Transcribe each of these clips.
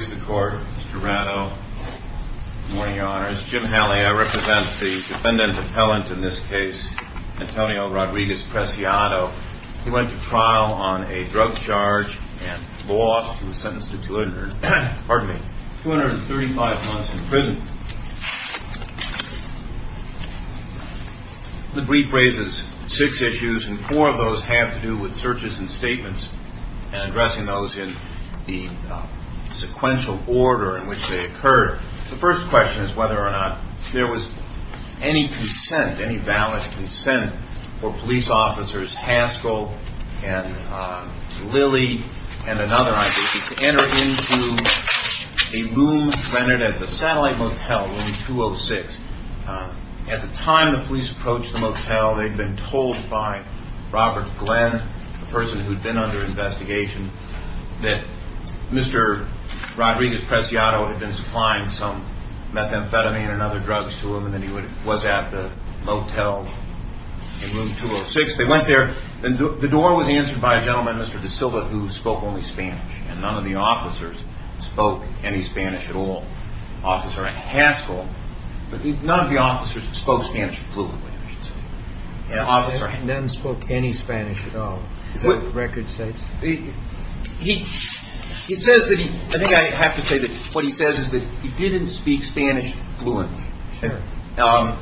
I represent the defendant appellant in this case, Antonio Rodriguez-Preciado. He went to trial on a drug charge and lost. He was sentenced to 235 months in prison. The brief raises six issues and four of those have to do with searches and statements and addressing those in the sequential order in which they occurred. The first question is whether or not there was any consent, any valid consent, for police officers Haskell and Lilley and another I believe, to enter into a room rented at the Satellite Motel, room 206. At the time the police approached the motel, they'd been told by Robert Glenn, the person who'd been under investigation, that Mr. Rodriguez-Preciado had been supplying some methamphetamine and other drugs to him and that he was at the motel in room 206. They went there and the door was answered by a gentleman, Mr. De Silva, who spoke only Spanish and none of the officers spoke any Spanish at all. Officer Haskell, none of the officers spoke Spanish fluently. And none spoke any Spanish at all? Is that what the record says? He says that he, I think I have to say that what he says is that he didn't speak Spanish fluently. But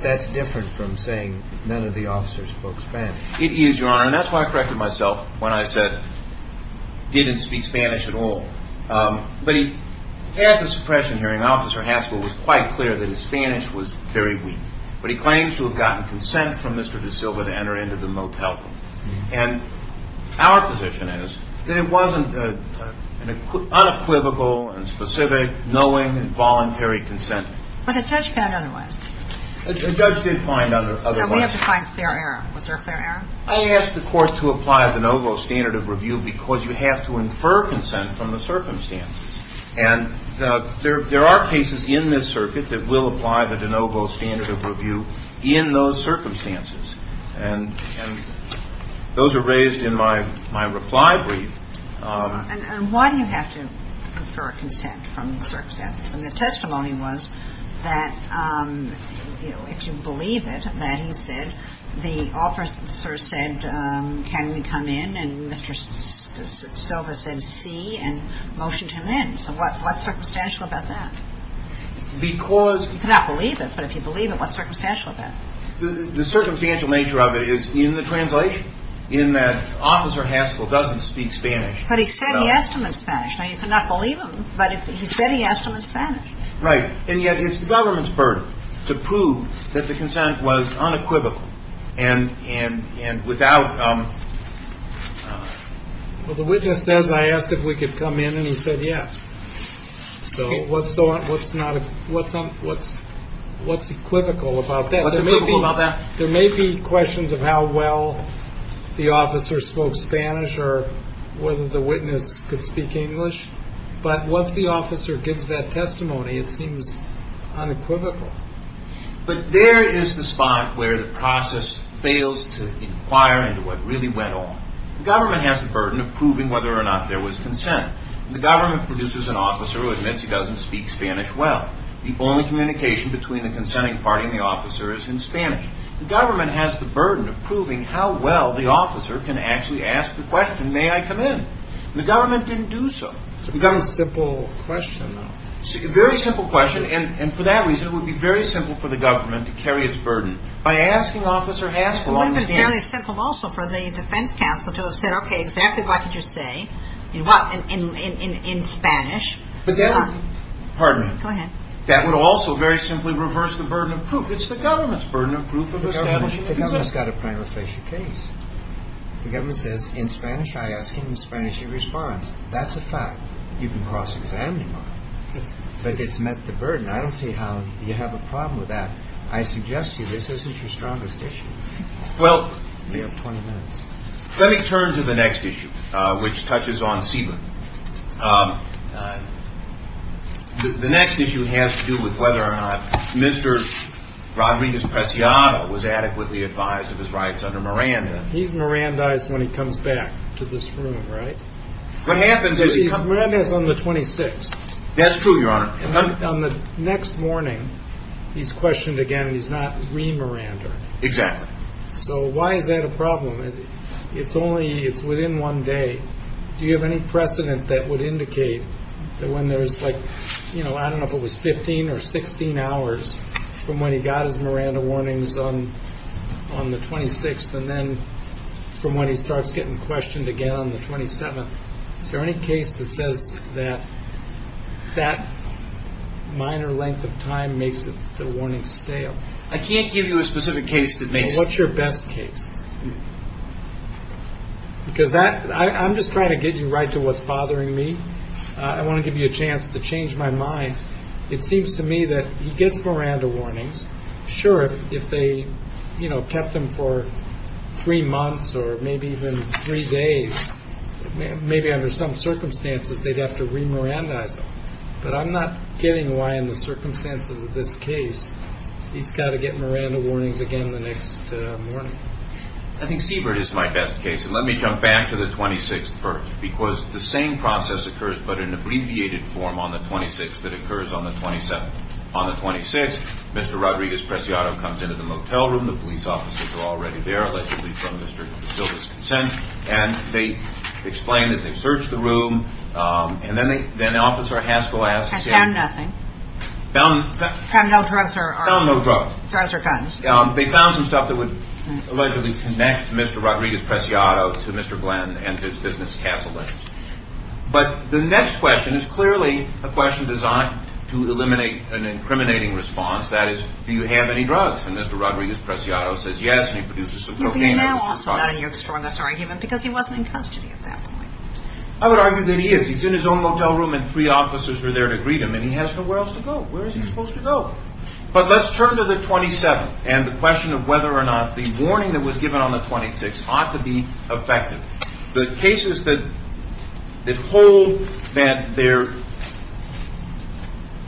that's different from saying none of the officers spoke Spanish. It is, Your Honor, and that's why I corrected myself when I said didn't speak Spanish at all. But at the suppression hearing, Officer Haskell was quite clear that his Spanish was very weak. But he claims to have gotten consent from Mr. De Silva to enter into the motel room. And our position is that it wasn't unequivocal and specific, knowing and voluntary consent. But the judge found otherwise. The judge did find otherwise. So we have to find clear error. Was there clear error? I asked the court to apply the de novo standard of review because you have to infer consent from the circumstances. And there are cases in this circuit that will apply the de novo standard of review in those circumstances. And those are raised in my reply brief. And why do you have to infer consent from the circumstances? And the testimony was that, you know, if you believe it, that he said, the officer said, can we come in? And Mr. De Silva came in and motioned him in. So what's circumstantial about that? You cannot believe it, but if you believe it, what's circumstantial about it? The circumstantial nature of it is in the translation, in that Officer Haskell doesn't speak Spanish. But he said he asked him in Spanish. Now, you cannot believe him, but he said he asked him in Spanish. Right. And yet it's the government's burden to prove that the consent was unequivocal. And without... Well, the witness says, I asked if we could come in and he said yes. So what's equivocal about that? What's equivocal about that? There may be questions of how well the officer spoke Spanish or whether the witness could speak English. But once the officer gives that testimony, it seems unequivocal. But there is the spot where the process fails to inquire into what really went on. The government has the burden of proving whether or not there was consent. The government produces an officer who admits he doesn't speak Spanish well. The only communication between the consenting party and the officer is in Spanish. The government has the burden of proving how well the officer can actually ask the question, may I come in? The government didn't do so. It's become a simple question now. Very simple question. And for that reason, it would be very simple for the government to carry its burden. By asking Officer Haskell on the stand... It would have been very simple also for the defense counsel to have said, okay, exactly what did you say? In Spanish. Pardon me. Go ahead. That would also very simply reverse the burden of proof. It's the government's burden of proof of establishing... The government's got to prima facie case. The government says, in Spanish, I ask him in Spanish, he responds. That's a fact. You can cross-examine him, but it's met the burden. I don't see how you have a problem with that. I suggest to you, this isn't your strongest issue. Well... We have 20 minutes. Let me turn to the next issue, which touches on SIBA. The next issue has to do with whether or not Mr. Rodriguez-Preciado was adequately advised of his rights under Miranda. He's Mirandized when he comes back to this room, right? What happens is... He's Mirandized on the 26th. That's true, Your Honor. On the next morning, he's questioned again, and he's not re-Miranda. Exactly. So why is that a problem? It's only, it's within one day. Do you have any precedent that would indicate that when there's like, you know, I don't know if it was 15 or 16 hours from when he got his Miranda warnings on the 26th, and then from when he starts getting questioned again on the 27th, is there any case that says that that minor length of time makes the warning stale? I can't give you a specific case that makes... What's your best case? Because that, I'm just trying to get you right to what's bothering me. I want to give you a chance to change my mind. It seems to me that he gets Miranda warnings. Sure, if they, you know, kept him for three months or maybe even three days, maybe under some circumstances, they'd have to re-Mirandaize him. But I'm not getting why in the circumstances of this case, he's got to get Miranda warnings again the next morning. I think Siebert is my best case. And let me jump back to the 26th first, because the same process occurs but in abbreviated form on the 26th that occurs on the 27th. On the 26th, Mr. Rodriguez-Preciado comes into the motel room, the police officers are already there, allegedly from Mr. De Silva's consent, and they explain that they searched the room, and then they, then Officer Haskell asks... Has found nothing. Found no drugs or... Found no drugs. Drugs or guns. They found some stuff that would allegedly connect Mr. Rodriguez-Preciado to Mr. Glenn and his business, Castle Lane. But the next question is clearly a question designed to eliminate an incriminating response, that is, do you have any drugs? And Mr. Rodriguez-Preciado says yes, and he produces some cocaine. But you're now also not in your strongest argument because he wasn't in custody at that point. I would argue that he is. He's in his own motel room, and three officers are there to greet him, and he has nowhere else to go. Where is he supposed to go? But let's turn to the 27th and the question of whether or not the warning that was given on the 26th ought to be effective. The cases that hold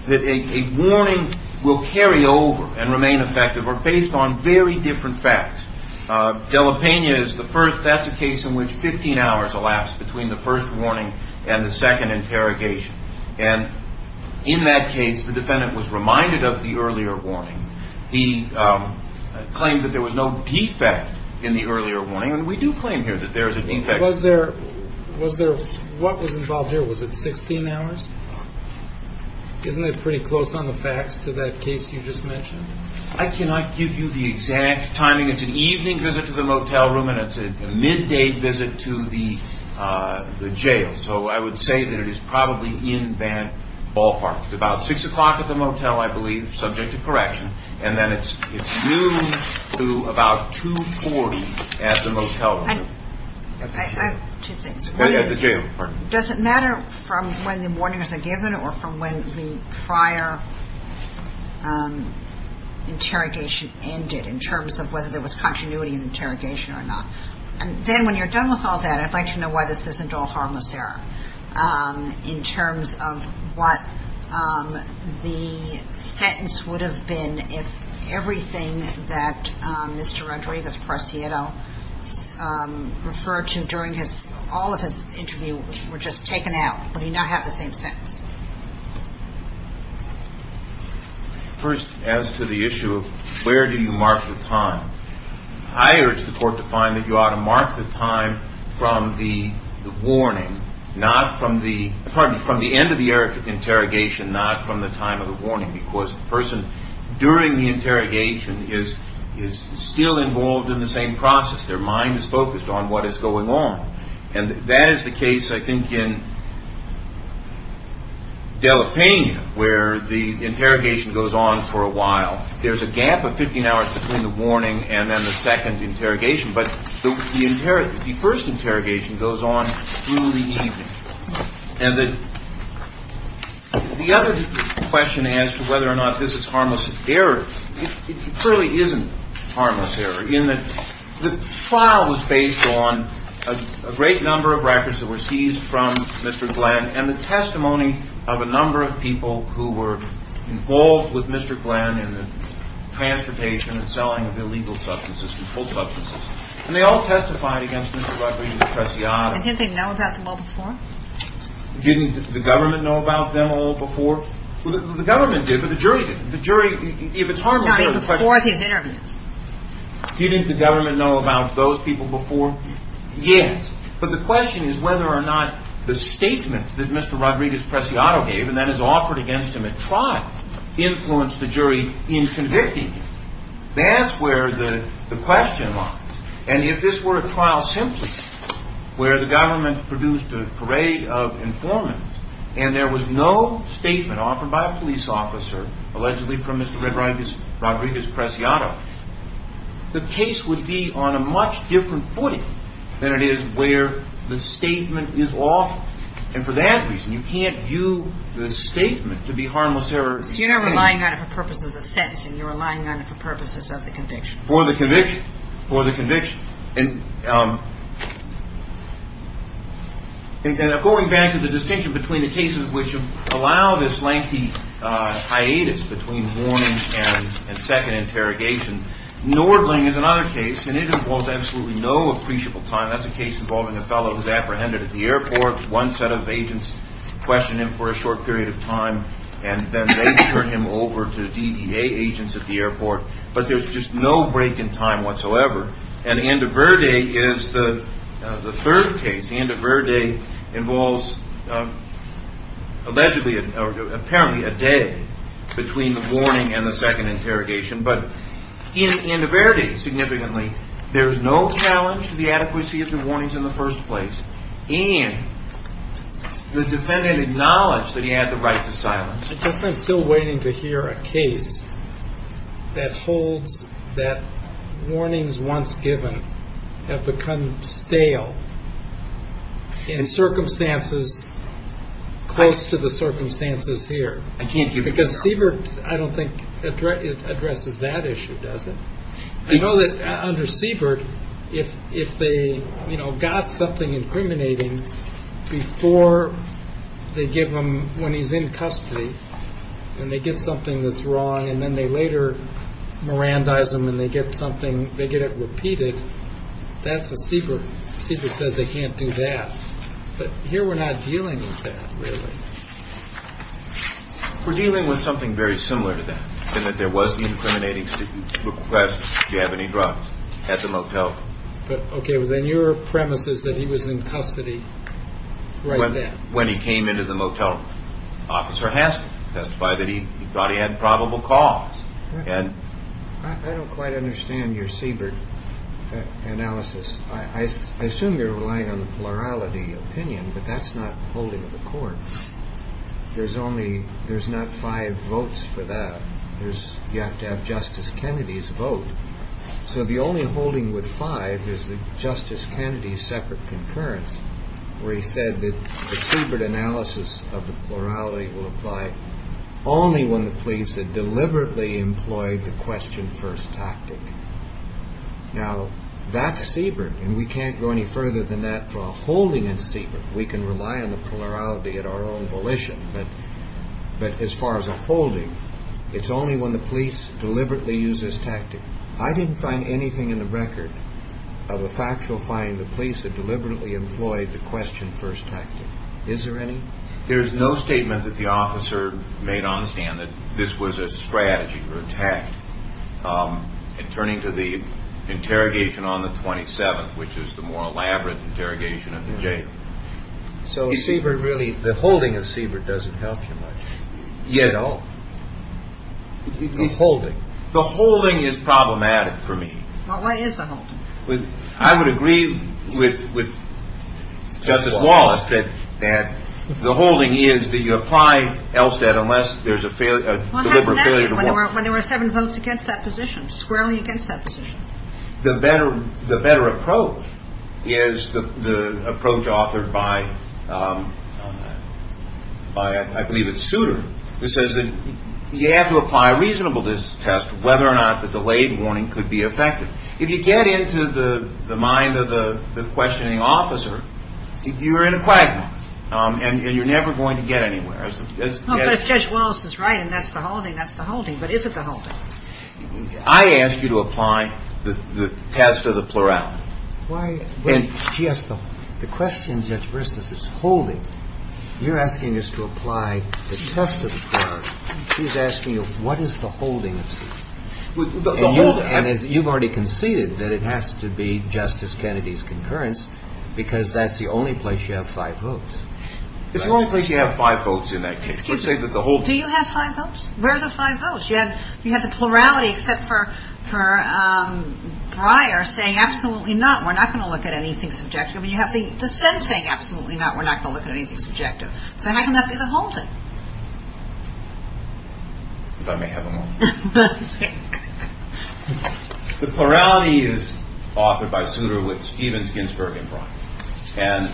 that a warning will carry over and remain effective are based on very different facts. Della Pena is the first. That's a case in which 15 hours elapsed between the first warning and the second interrogation. And in that case, the defendant was reminded of the earlier warning. He claimed that there was no defect in the earlier warning, and we do claim here that there is a defect. What was involved here? Was it 16 hours? Isn't that pretty close on the facts to that case you just mentioned? I cannot give you the exact timing. It's an evening visit to the motel room, and it's a midday visit to the jail. So I would say that it is probably in that ballpark. It's about six o'clock at the motel, I believe, subject to correction. And then it's due to about 2.40 at the motel room. Does it matter from when the warnings are given or from when the prior interrogation ended in terms of whether there was continuity in interrogation or not? And then when you're done with all that, I'd like to know why this isn't all harmless error in terms of what the sentence would have been if everything that Mr. Rodriguez-Preciado referred to during all of his interviews were just taken out. Would he not have the same sentence? First, as to the issue of where do you mark the time, I urge the court to find that you ought to mark the time from the end of the interrogation, not from the time of the warning, because the person during the interrogation is still involved in the same process. Their mind is focused on what is going on. And that is the case, I think, in Delapena, where the interrogation goes on for a while. There's a gap of 15 hours between the warning and then the second interrogation. But the first interrogation goes on through the evening. And the other question as to whether or not this is harmless error, it clearly isn't harmless error, in that the trial was based on a great number of records that were seized from Mr. Glenn and the testimony of a number of people who were involved with Mr. Glenn in the transportation and selling of illegal substances and full substances. And they all testified against Mr. Rodriguez-Preciado. And didn't they know about them all before? Didn't the government know about them all before? The government did, but the jury didn't. The jury, if it's harmless error, the question is, didn't the government know about those people before? Yes. But the question is whether or not the statement that Mr. Rodriguez-Preciado gave, and that is offered against him at trial, influenced the jury in convicting him. That's where the question lies. And if this were a trial simply where the government produced a parade of informants and there was no statement offered by a police officer, allegedly from Mr. Rodriguez-Preciado, the case would be on a much different footing than it is where the statement is offered. And for that reason, you can't view the statement to be harmless error. So you're not relying on it for purposes of sentencing. You're relying on it for purposes of the conviction. For the conviction. For the conviction. And going back to the distinction between the cases which allow this lengthy hiatus between warning and second interrogation, Nordling is another case, and it involves absolutely no appreciable time. That's a case involving a fellow who's apprehended at the airport. One set of agents questioned him for a short period of time, and then they turned him over to DDA agents at the airport. But there's just no break in time whatsoever. And Andoverde is the third case. Andoverde involves allegedly, or apparently, a day between the warning and the second interrogation. But in Andoverde, significantly, there is no challenge to the adequacy of the warnings in the first place. And the defendant acknowledged that he had the right to silence him. I guess I'm still waiting to hear a case that holds that warnings once given have become stale in circumstances close to the circumstances here. I can't give you a trial. Because Siebert, I don't think, addresses that issue, does it? I know that under Siebert, if they got something incriminating before they give him, when he's in custody, and they get something that's wrong, and then they later mirandize him, and they get something, they get it repeated, that's a Siebert. Siebert says they can't do that. But here, we're not dealing with that, really. We're dealing with something very similar to that, in that there was the incriminating request, do you have any drugs, at the motel. But OK, but then your premise is that he was in custody right then. When he came into the motel, Officer Hanson testified that he thought he had probable cause. And I don't quite understand your Siebert analysis. I assume you're relying on the plurality opinion. But that's not the holding of the court. There's only, there's not five votes for that. There's, you have to have Justice Kennedy's vote. So the only holding with five is the Justice Kennedy's separate concurrence, where he said that the Siebert analysis of the plurality will apply only when the police have deliberately employed the question first tactic. Now, that's Siebert, and we can't go any further than that for a holding in Siebert. We can rely on the plurality at our own volition, but as far as a holding, it's only when the police deliberately use this tactic. I didn't find anything in the record of a factual find the police had deliberately employed the question first tactic. Is there any? There's no statement that the officer made on the stand that this was a strategy for attack. And turning to the interrogation on the 27th, which is the more elaborate interrogation at the jail. So Siebert really, the holding of Siebert doesn't help you much. Yet all. Holding. The holding is problematic for me. Well, what is the holding? I would agree with Justice Wallace that the holding is that you apply Elstead unless there's a deliberate failure to walk. When there were seven votes against that position, squarely against that position. The better approach is the approach authored by, I believe it's Souter, who says that you have to apply a reasonable test whether or not the delayed warning could be effective. If you get into the mind of the questioning officer, you're in a quagmire and you're never going to get anywhere. No, but if Judge Wallace is right and that's the holding, that's the holding. But is it the holding? I ask you to apply the test of the plurality. Why? The question, Judge Baristas, is holding. You're asking us to apply the test of the plurality. She's asking you, what is the holding? And you've already conceded that it has to be Justice Kennedy's concurrence because that's the only place you have five votes. It's the only place you have five votes in that case. Excuse me. Do you have five votes? Where's the five votes? You have the plurality except for Breyer saying, absolutely not. We're not going to look at anything subjective. You have the dissent saying, absolutely not. We're not going to look at anything subjective. So how can that be the holding? But I may have them all. The plurality is offered by Souter with Stevens, Ginsburg, and Breyer. And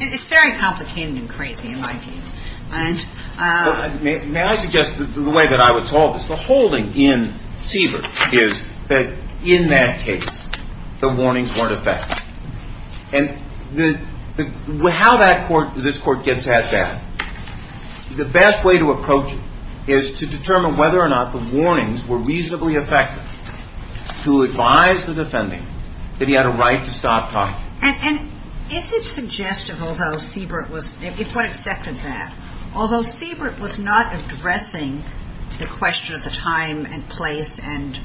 It's very complicated and crazy in my view. May I suggest the way that I would solve this? The holding in Seaver is that in that case, the warnings weren't effective. And how this Court gets at that, the best way to approach it is to determine whether or not the warnings were reasonably effective to advise the defending that he had a right to stop talking. And is it suggestive, although Seavert was, if one accepted that, although Seavert was not addressing the question of the time and place and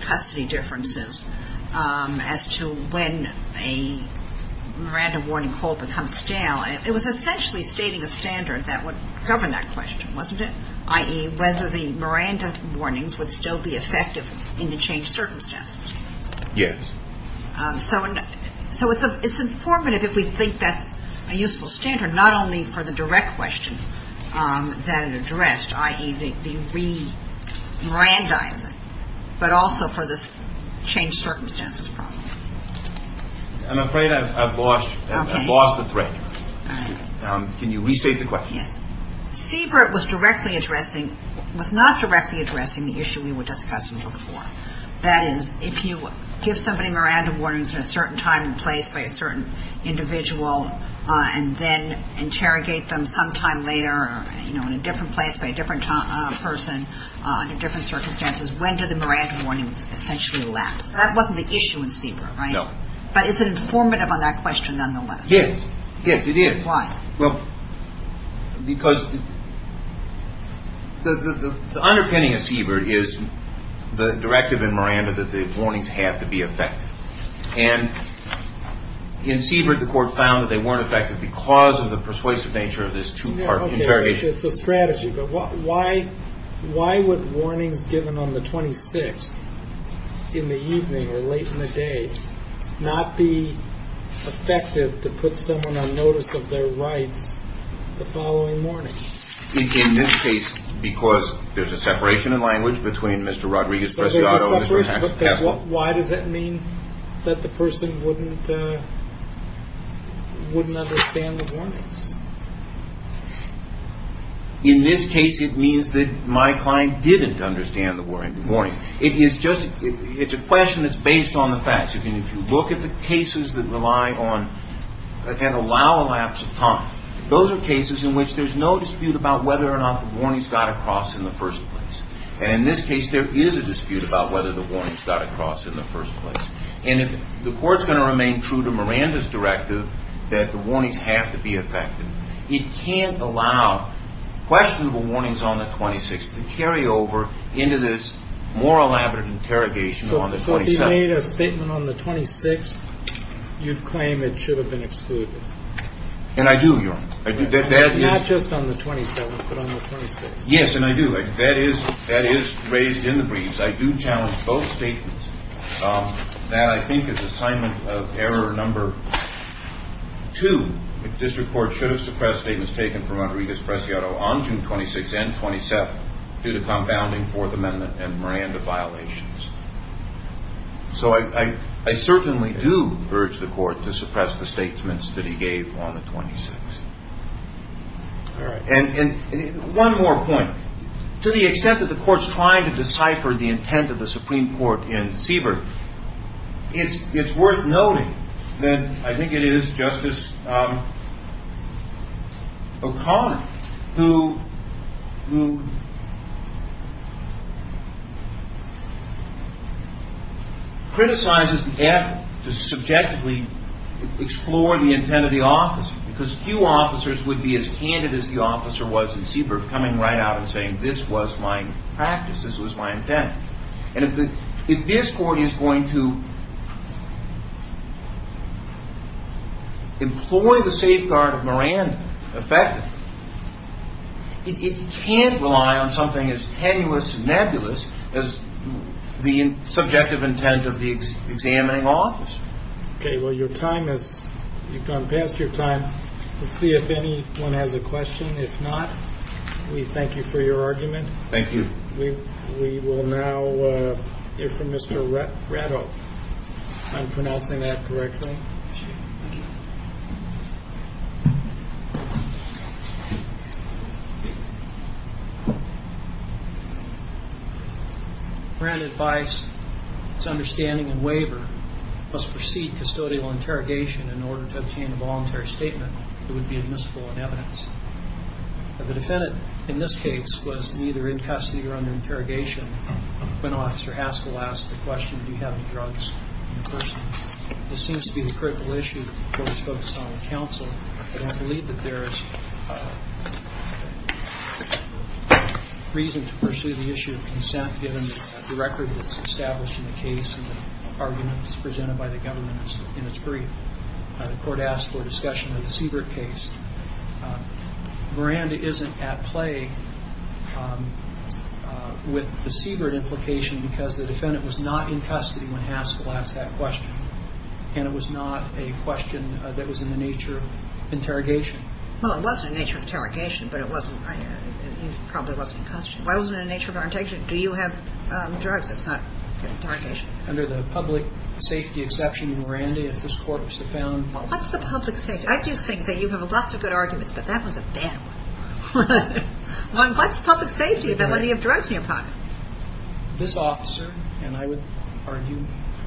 custody differences as to when a Miranda warning hold becomes stale. It was essentially stating a standard that would govern that question, wasn't it? I.e., whether the Miranda warnings would still be effective in the change circumstance. Yes. So it's informative if we think that's a useful standard, not only for the direct circumstances. I'm afraid I've lost the thread. Can you restate the question? Yes. Seavert was not directly addressing the issue we were discussing before. That is, if you give somebody Miranda warnings at a certain time and place by a certain individual and then interrogate them sometime later or in a different place by a different person under different circumstances, when do the Miranda warnings essentially elapse? That wasn't the issue in Seavert, right? No. But it's informative on that question nonetheless. Yes. Yes, it is. Why? Well, because the underpinning of Seavert is the directive in Miranda that the warnings have to be effective. And in Seavert, the court found that they weren't effective because of the persuasive nature of this two-part interrogation. It's a strategy. But why would warnings given on the 26th in the evening or late in the day not be effective to put someone on notice of their rights the following morning? In this case, because there's a separation in language between Mr. Rodriguez-Preciado and Mr. Haslam. Why does that mean that the person wouldn't understand the warnings? In this case, it means that my client didn't understand the warnings. It's a question that's based on the facts. If you look at the cases that allow elapse of time, those are cases in which there's no dispute about whether or not the warnings got across in the first place. And in this case, there is a dispute about whether the warnings got across in the first place. And if the court's going to remain true to Miranda's directive that the warnings have to be effective, it can't allow questionable warnings on the 26th to carry over into this more elaborate interrogation on the 27th. So if you made a statement on the 26th, you'd claim it should have been excluded? And I do, Your Honor. I do. Not just on the 27th, but on the 26th. Yes, and I do. That is raised in the briefs. I do challenge both statements. That, I think, is assignment of error number two. The district court should have suppressed statements taken from Rodriguez-Preciado on June 26th and 27th due to compounding Fourth Amendment and Miranda violations. So I certainly do urge the court to suppress the statements that he gave on the 26th. And one more point. To the extent that the court's trying to decipher the intent of the Supreme Court in Seabrook, it's worth noting that I think it is Justice O'Connor who criticizes the effort to subjectively explore the intent of the officer. Because few officers would be as candid as the officer was in Seabrook coming right out and saying, this was my practice. This was my intent. And if this court is going to employ the safeguard of Miranda effectively, it can't rely on something as tenuous and nebulous as the subjective intent of the examining officer. OK. Well, your time has gone past your time. Let's see if anyone has a question. If not, we thank you for your argument. Thank you. We will now hear from Mr. Ratto. I'm pronouncing that correctly. Grant advice, its understanding and waiver must proceed custodial interrogation in order to obtain a voluntary statement. It would be admissible in evidence. The defendant, in this case, was neither in custody or under interrogation when Officer Haskell asked the question, do you have any drugs in the person? This seems to be the critical issue that the court is focused on with counsel. But I believe that there is reason to pursue the issue of consent, given the record that's established in the case and the arguments presented by the government in its brief. The court asked for a discussion of the Seabrook case. Miranda isn't at play with the Seabrook implication because the defendant was not in custody when Haskell asked that question. And it was not a question that was in the nature of interrogation. Well, it wasn't a nature of interrogation, but it wasn't. He probably wasn't in custody. Why wasn't it in the nature of interrogation? Do you have drugs? It's not interrogation. Under the public safety exception, Miranda, if this court was to found. What's the public safety? I do think that you have lots of good arguments, but that was a bad one. What's public safety about whether you have drugs in your pocket? This officer, and I would argue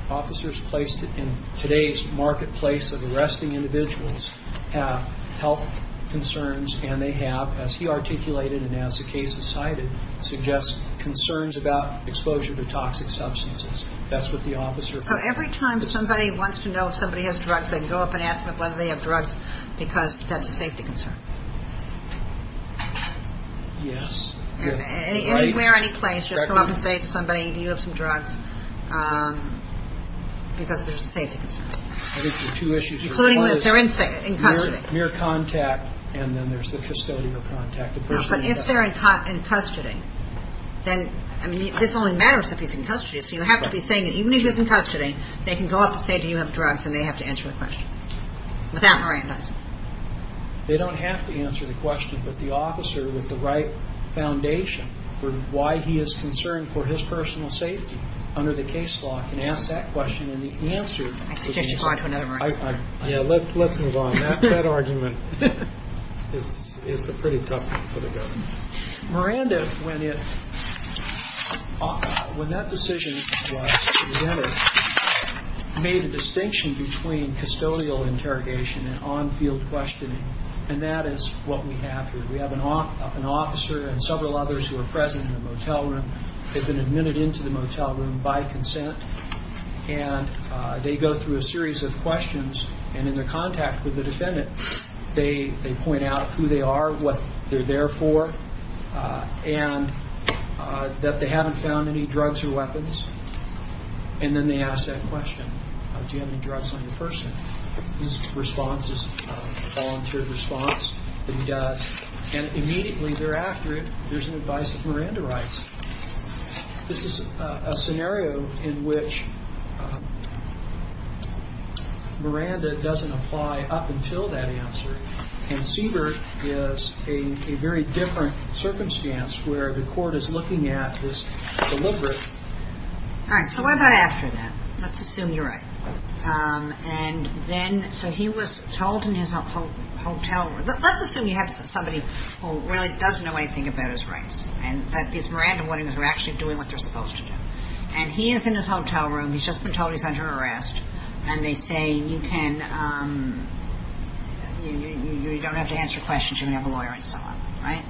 officers placed in today's marketplace of arresting individuals have health concerns and they have, as he articulated and as the case is cited, suggest concerns about exposure to toxic substances. That's what the officer. So every time somebody wants to know if somebody has drugs, they can go up and ask whether they have drugs because that's a safety concern. Yes. Anywhere, any place, just come up and say to somebody, do you have some drugs? Because there's a safety concern. I think there's two issues. Including that they're in custody. Near contact and then there's the custodial contact. But if they're in custody, then, I mean, this only matters if he's in custody. So you have to be saying that even if he's in custody, And they have to answer the question. Without Miranda. They don't have to answer the question, but the officer with the right foundation for why he is concerned for his personal safety under the case law can ask that question. And the answer. I suggest you talk to another Miranda. Yeah, let's move on. That argument is a pretty tough one for the government. Miranda, when that decision was presented, made a distinction between custodial interrogation and on-field questioning. And that is what we have here. We have an officer and several others who are present in the motel room. They've been admitted into the motel room by consent. And they go through a series of questions. And in their contact with the defendant, they point out who they are, what they're there for. And that they haven't found any drugs or weapons. And then they ask that question, do you have any drugs on your person? His response is a volunteered response. He does. And immediately thereafter, there's an advice that Miranda writes. This is a scenario in which. Miranda doesn't apply up until that answer. And Siebert is a very different circumstance where the court is looking at this deliberate. All right. So what about after that? Let's assume you're right. And then so he was told in his hotel room. Let's assume you have somebody who really doesn't know anything about his rights. And that these Miranda Williams are actually doing what they're supposed to do. And he is in his hotel room. He's just been told he's under arrest. And they say, you don't have to answer questions. You can have a lawyer and so on. Right.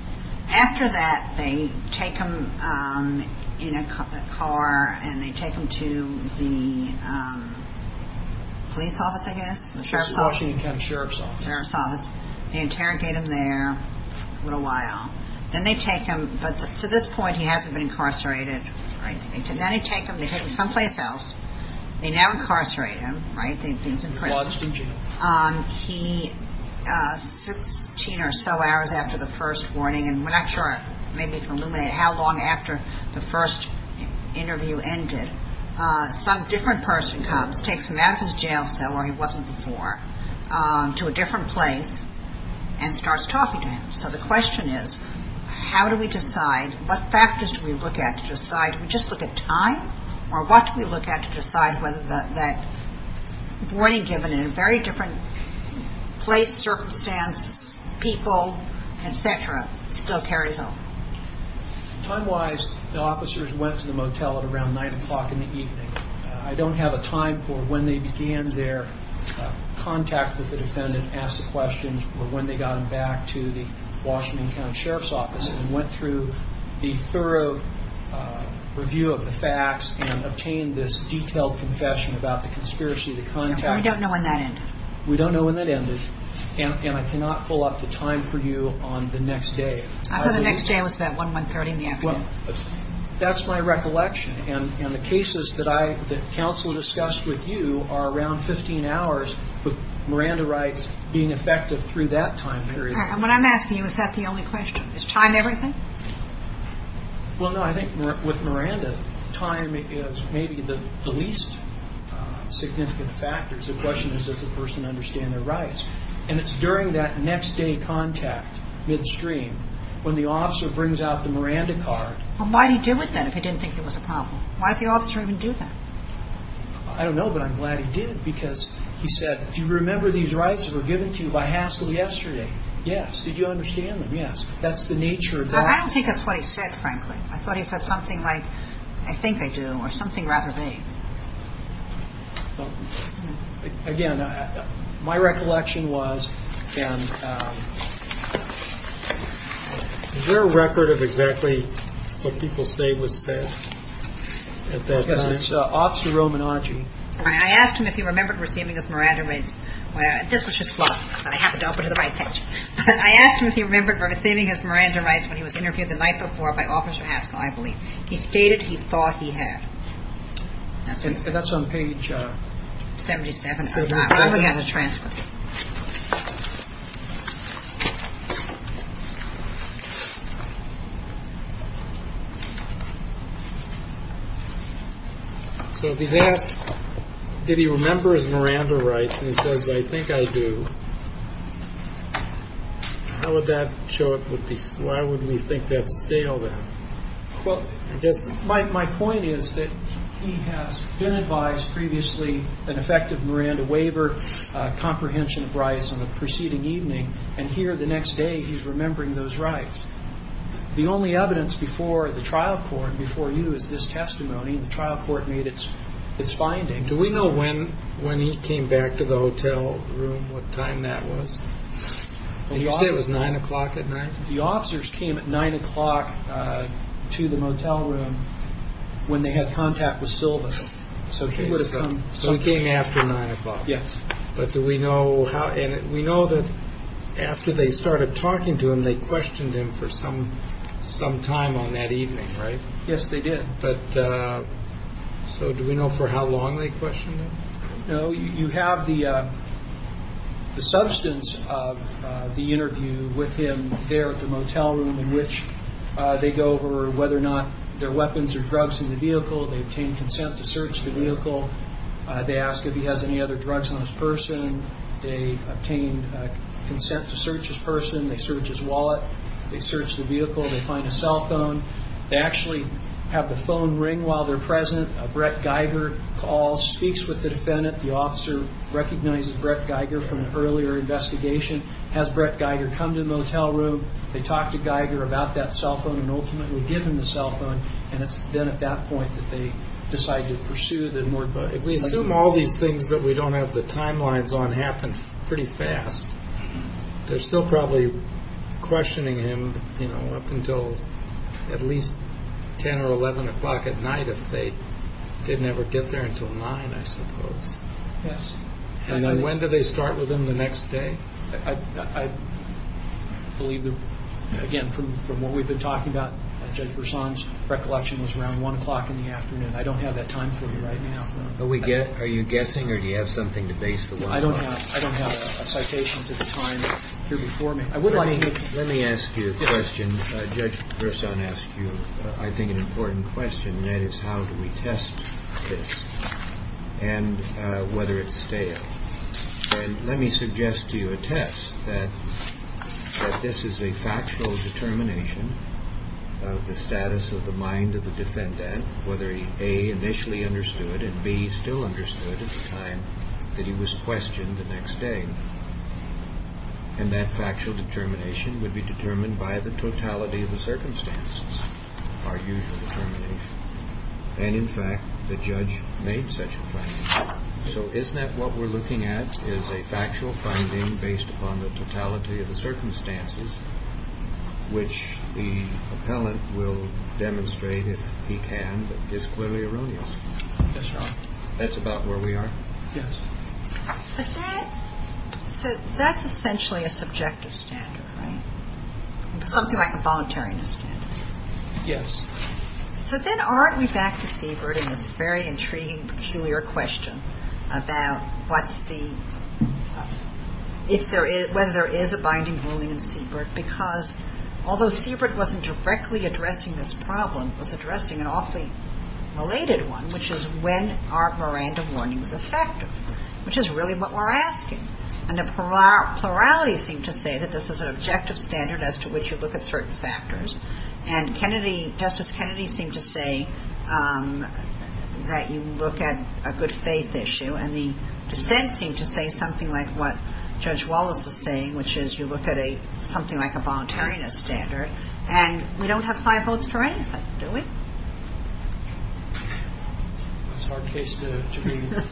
After that, they take him in a car and they take him to the police office, I guess. The Washington County Sheriff's Office. Sheriff's Office. They interrogate him there for a little while. Then they take him. But to this point, he hasn't been incarcerated. Right. Then they take him. They take him someplace else. They now incarcerate him. Right. He's in prison. He's 16 or so hours after the first warning. And we're not sure. Maybe we can eliminate how long after the first interview ended. Some different person comes, takes him out of his jail cell where he wasn't before, to a different place and starts talking to him. So the question is, how do we decide? What factors do we look at to decide? Do we just look at time? Or what do we look at to decide whether that warning given in a very different place, circumstance, people, et cetera, still carries on? Time-wise, the officers went to the motel at around 9 o'clock in the evening. I don't have a time for when they began their contact with the defendant, asked the questions, or when they got him back to the Washington County Sheriff's Office and went through the thorough review of the facts and obtained this detailed confession about the conspiracy of the contact. We don't know when that ended. We don't know when that ended. And I cannot pull up the time for you on the next day. I heard the next day was about 1-1-30 in the afternoon. That's my recollection. And the cases that I, that counsel discussed with you are around 15 hours, with Miranda rights being effective through that time period. And what I'm asking you, is that the only question? Is time everything? Well, no. I think with Miranda, time is maybe the least significant factors. The question is, does the person understand their rights? And it's during that next day contact, midstream, when the officer brings out the Miranda card. Well, why'd he do it then if he didn't think it was a problem? Why'd the officer even do that? I don't know, but I'm glad he did because he said, do you remember these rights that were given to you by Haskell yesterday? Yes. Did you understand them? Yes. That's the nature of that. I don't think that's what he said, frankly. I thought he said something like, I think I do, or something rather vague. Again, my recollection was, and... Is there a record of exactly what people say was said at that time? Yes, it's Officer Romanaggi. I asked him if he remembered receiving his Miranda rights when he was interviewed the night before by Officer Haskell, I believe. He stated he thought he had. That's on page 77. So, if he's asked, did he remember his Miranda rights, and he says, I think I do, how would that show up? Why would we think that's stale then? Well, my point is that he has been advised previously an effective Miranda waiver, comprehension of rights on the preceding evening, and here the next day he's remembering those rights. The only evidence before the trial court, before you, is this testimony. The trial court made its finding. Do we know when he came back to the hotel room, what time that was? Did he say it was 9 o'clock at night? The officers came at 9 o'clock to the motel room when they had contact with Silva. So he came after 9 o'clock? Yes. But do we know how, and we know that after they started talking to him, they questioned him for some time on that evening, right? Yes, they did. But, so do we know for how long they questioned him? No, you have the substance of the interview with him there at the motel room, in which they go over whether or not there are weapons or drugs in the vehicle. They obtain consent to search the vehicle. They ask if he has any other drugs on his person. They obtain consent to search his person. They search his wallet. They search the vehicle. They find a cell phone. They actually have the phone ring while they're present. Brett Geiger calls, speaks with the defendant. The officer recognizes Brett Geiger from an earlier investigation. Has Brett Geiger come to the motel room? They talk to Geiger about that cell phone and ultimately give him the cell phone. And it's then at that point that they decide to pursue the moored boat. If we assume all these things that we don't have the timelines on happen pretty fast, they're still probably questioning him, you know, up until at least 10 or 11 o'clock at night if they didn't ever get there until 9, I suppose. Yes. And then when do they start with him the next day? I believe that, again, from what we've been talking about, Judge Verzon's recollection was around 1 o'clock in the afternoon. I don't have that time for you right now. Are you guessing or do you have something to base the 1 o'clock? I don't have a citation to the time here before me. I would like to get to that. Let me ask you a question. Judge Verzon asked you, I think, an important question. That is, how do we test this and whether it's stale? And let me suggest to you a test that this is a factual determination of the status of the mind of the defendant, whether A, initially understood, and B, still understood at the time that he was questioned the next day. And that factual determination would be determined by the totality of the circumstances, our usual determination. And, in fact, the judge made such a claim. So isn't that what we're looking at is a factual finding based upon the totality of the circumstances, which the appellant will demonstrate if he can, but is clearly erroneous? That's right. That's about where we are? Yes. But that's essentially a subjective standard, right? Something like a voluntariness standard. Yes. So then aren't we back to Siebert in this very intriguing, peculiar question about whether there is a binding ruling in Siebert? Because although Siebert wasn't directly addressing this problem, it was addressing an awfully related one, which is when are Miranda warnings effective? Which is really what we're asking. And the plurality seem to say that this is an objective standard as to which you look at certain factors. And Justice Kennedy seemed to say that you look at a good faith issue. And the dissent seemed to say something like what Judge Wallace was saying, which is you look at something like a voluntariness standard. And we don't have five votes for anything, do we? It's a hard case to read.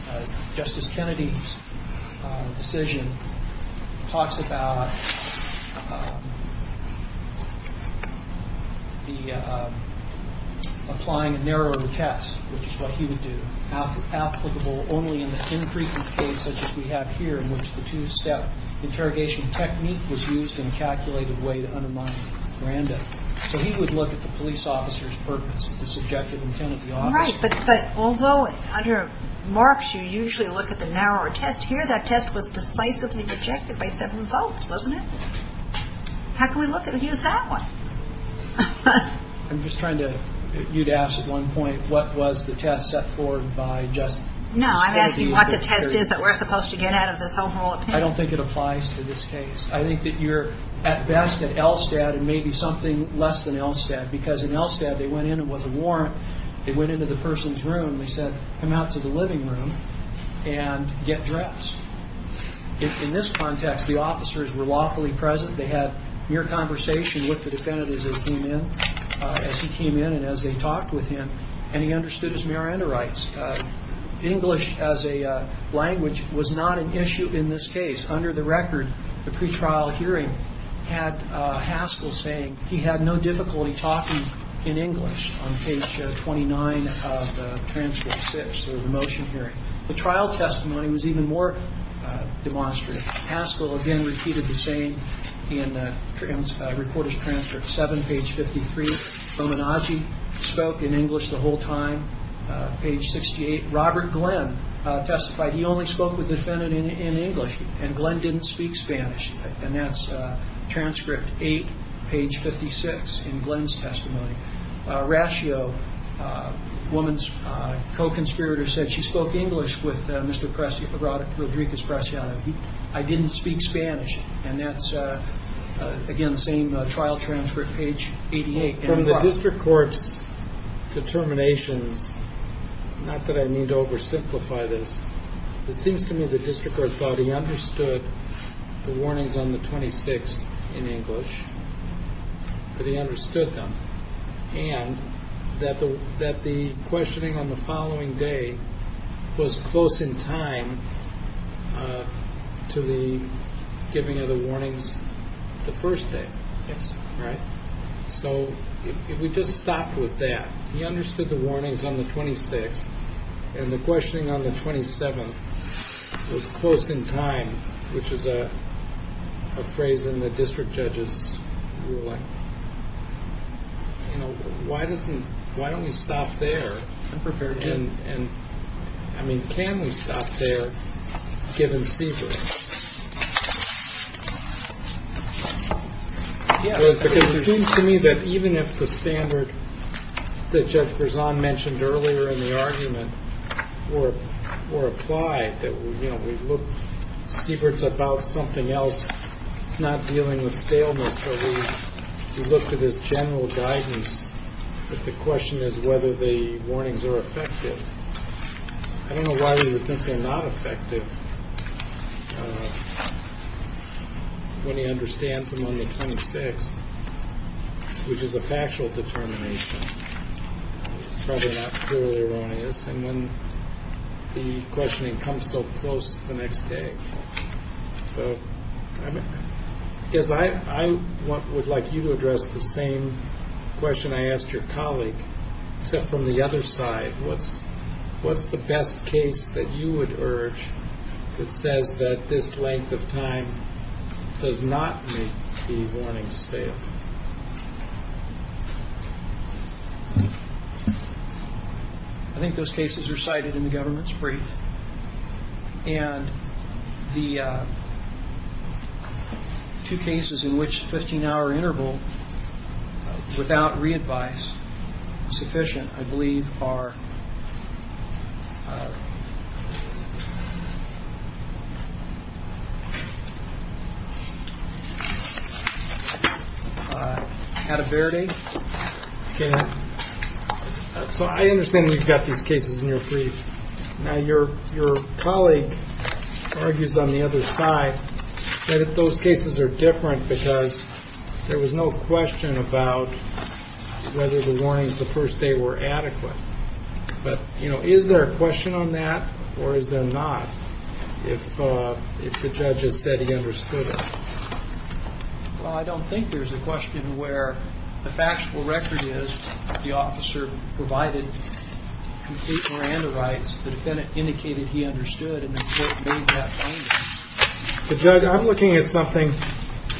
Justice Kennedy's decision talks about the applying a narrower test, which is what he would do, applicable only in the infrequent case such as we have here, in which the two-step interrogation technique was used in a calculated way to undermine Miranda. So he would look at the police officer's purpose, the subjective intent of the officer. Right. But although under Marx, you usually look at the narrower test here, that test was decisively rejected by seven votes, wasn't it? How can we look at and use that one? I'm just trying to, you'd ask at one point, what was the test set for by Justice Kennedy? No, I'm asking what the test is that we're supposed to get out of this overall opinion. I don't think it applies to this case. I think that you're at best at Elstad and maybe something less than Elstad. Because in Elstad, they went in with a warrant. They went into the person's room. They said, come out to the living room and get dressed. In this context, the officers were lawfully present. They had mere conversation with the defendant as he came in. As he came in and as they talked with him. And he understood his Miranda rights. English as a language was not an issue in this case. Under the record, the pre-trial hearing had Haskell saying he had no difficulty talking in English on page 29 of transport 6, the motion hearing. The trial testimony was even more demonstrative. Haskell again repeated the same in reportage transport 7, page 53. Romanacci spoke in English the whole time, page 68. Robert Glenn testified he only spoke with the defendant in English. And Glenn didn't speak Spanish. And that's transcript 8, page 56 in Glenn's testimony. Rascio, the woman's co-conspirator, said she spoke English with Mr. Rodriquez-Preciado. I didn't speak Spanish. And that's, again, the same trial transcript, page 88. From the district court's determinations, not that I need to oversimplify this, it seems to me the district court thought he understood the warnings on the 26th in English, that he understood them. And that the questioning on the following day was close in time to the giving of the warnings the first day. Yes. Right? So we just stopped with that. He understood the warnings on the 26th. And the questioning on the 27th was close in time, which is a phrase in the district judge's ruling. You know, why doesn't, why don't we stop there? I'm prepared to. And I mean, can we stop there given seizures? Yes. Because it seems to me that even if the standard that Judge Berzon mentioned earlier in the argument were applied, that we, you know, we look, Siebert's about something else. It's not dealing with staleness. So we looked at his general guidance. But the question is whether the warnings are effective. I don't know why we would think they're not effective when he understands them on the 26th, which is a factual determination. Probably not purely erroneous. And when the questioning comes so close the next day. So I guess I would like you to address the same question I asked your colleague, except from the other side. What's the best case that you would urge that says that this length of time does not make the warning stale? I think those cases are cited in the government's brief. And the two cases in which the 15-hour interval without re-advice is sufficient, I believe, are Atterberry. So I understand we've got these cases in your brief. Now, your colleague argues on the other side that those cases are different because there was no question about whether the warnings the first day were adequate. But is there a question on that? Or is there not? If the judge has said he understood it? Well, I don't think there's a question where the factual record is the officer provided complete Miranda rights. The defendant indicated he understood. I'm looking at something.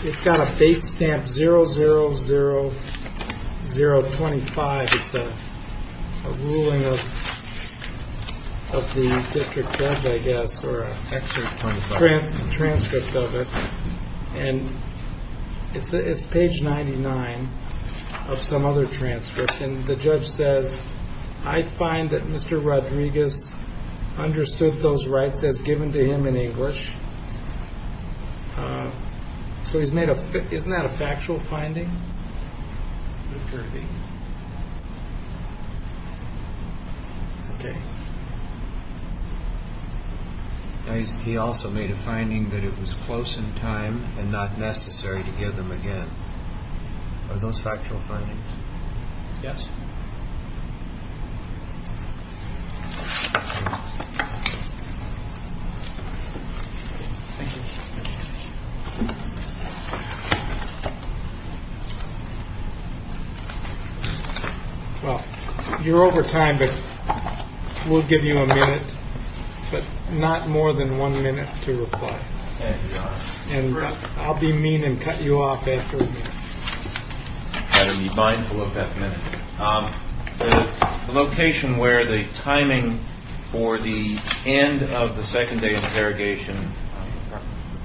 It's got a base stamp 00025. It's a ruling of the district judge, I guess, or a transcript of it. And it's page 99 of some other transcript. And the judge says, I find that Mr. Rodriguez understood those rights as given to him in English. So he's made a fit. Isn't that a factual finding? Okay. He also made a finding that it was close in time and not necessary to give them again. Are those factual findings? Yes. Well, you're over time, but we'll give you a minute, but not more than one minute to reply. And I'll be mean and cut you off after. You better be mindful of that minute. The location where the timing for the end of the second day interrogation,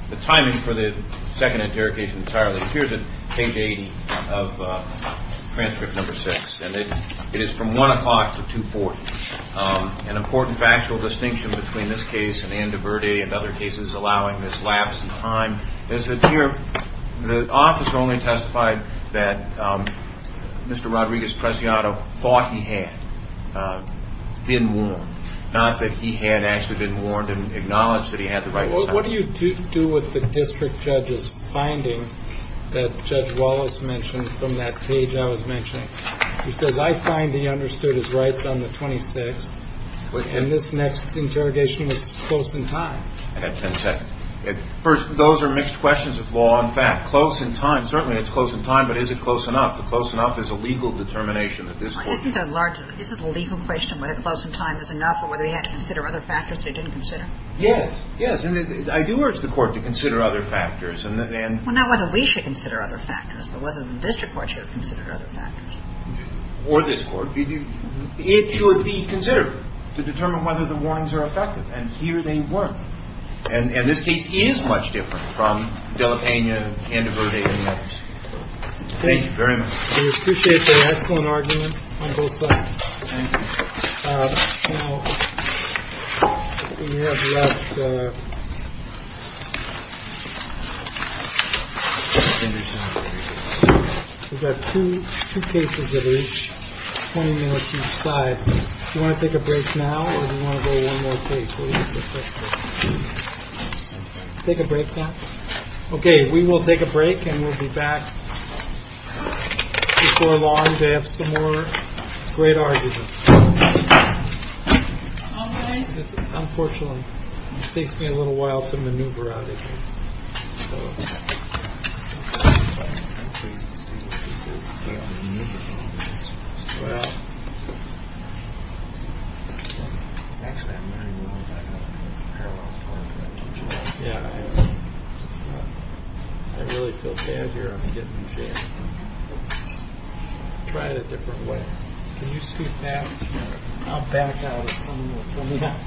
the timing for the second interrogation entirely appears at page 80 of transcript number six. And it is from 1 o'clock to 2.40. An important factual distinction between this case and Andoverde and other cases allowing this lapse in time is that here, the officer only testified that Mr. Rodriguez-Preciado thought he had been warned, not that he had actually been warned and acknowledged that he had the right. What do you do with the district judge's finding that Judge Wallace mentioned from that page I was mentioning? He says, I find he understood his rights on the 26th and this next interrogation was close in time. And at 10 seconds. First, those are mixed questions of law and fact. Close in time. Certainly, it's close in time, but is it close enough? Close enough is a legal determination. Isn't the legal question whether close in time is enough or whether we had to consider other factors they didn't consider? Yes. Yes. I do urge the court to consider other factors. Well, not whether we should consider other factors, but whether the district court should have considered other factors. Or this court. It should be considered to determine whether the warnings are effective. And here they weren't. And this case is much different from Delapana and Verde and the others. Thank you very much. We appreciate the excellent argument on both sides. Thank you. Now, we have left. We've got two cases that are each 20 minutes each side. Do you want to take a break now or do you want to go one more case? Take a break now. Okay. We will take a break and we'll be back. Before long, they have some more great arguments. Unfortunately, it takes me a little while to maneuver out of here. Yeah, I really feel bad here. Try it a different way. Can you scoot back? I'll back out. Pull it back.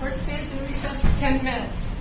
Court stays in recess for 10 minutes.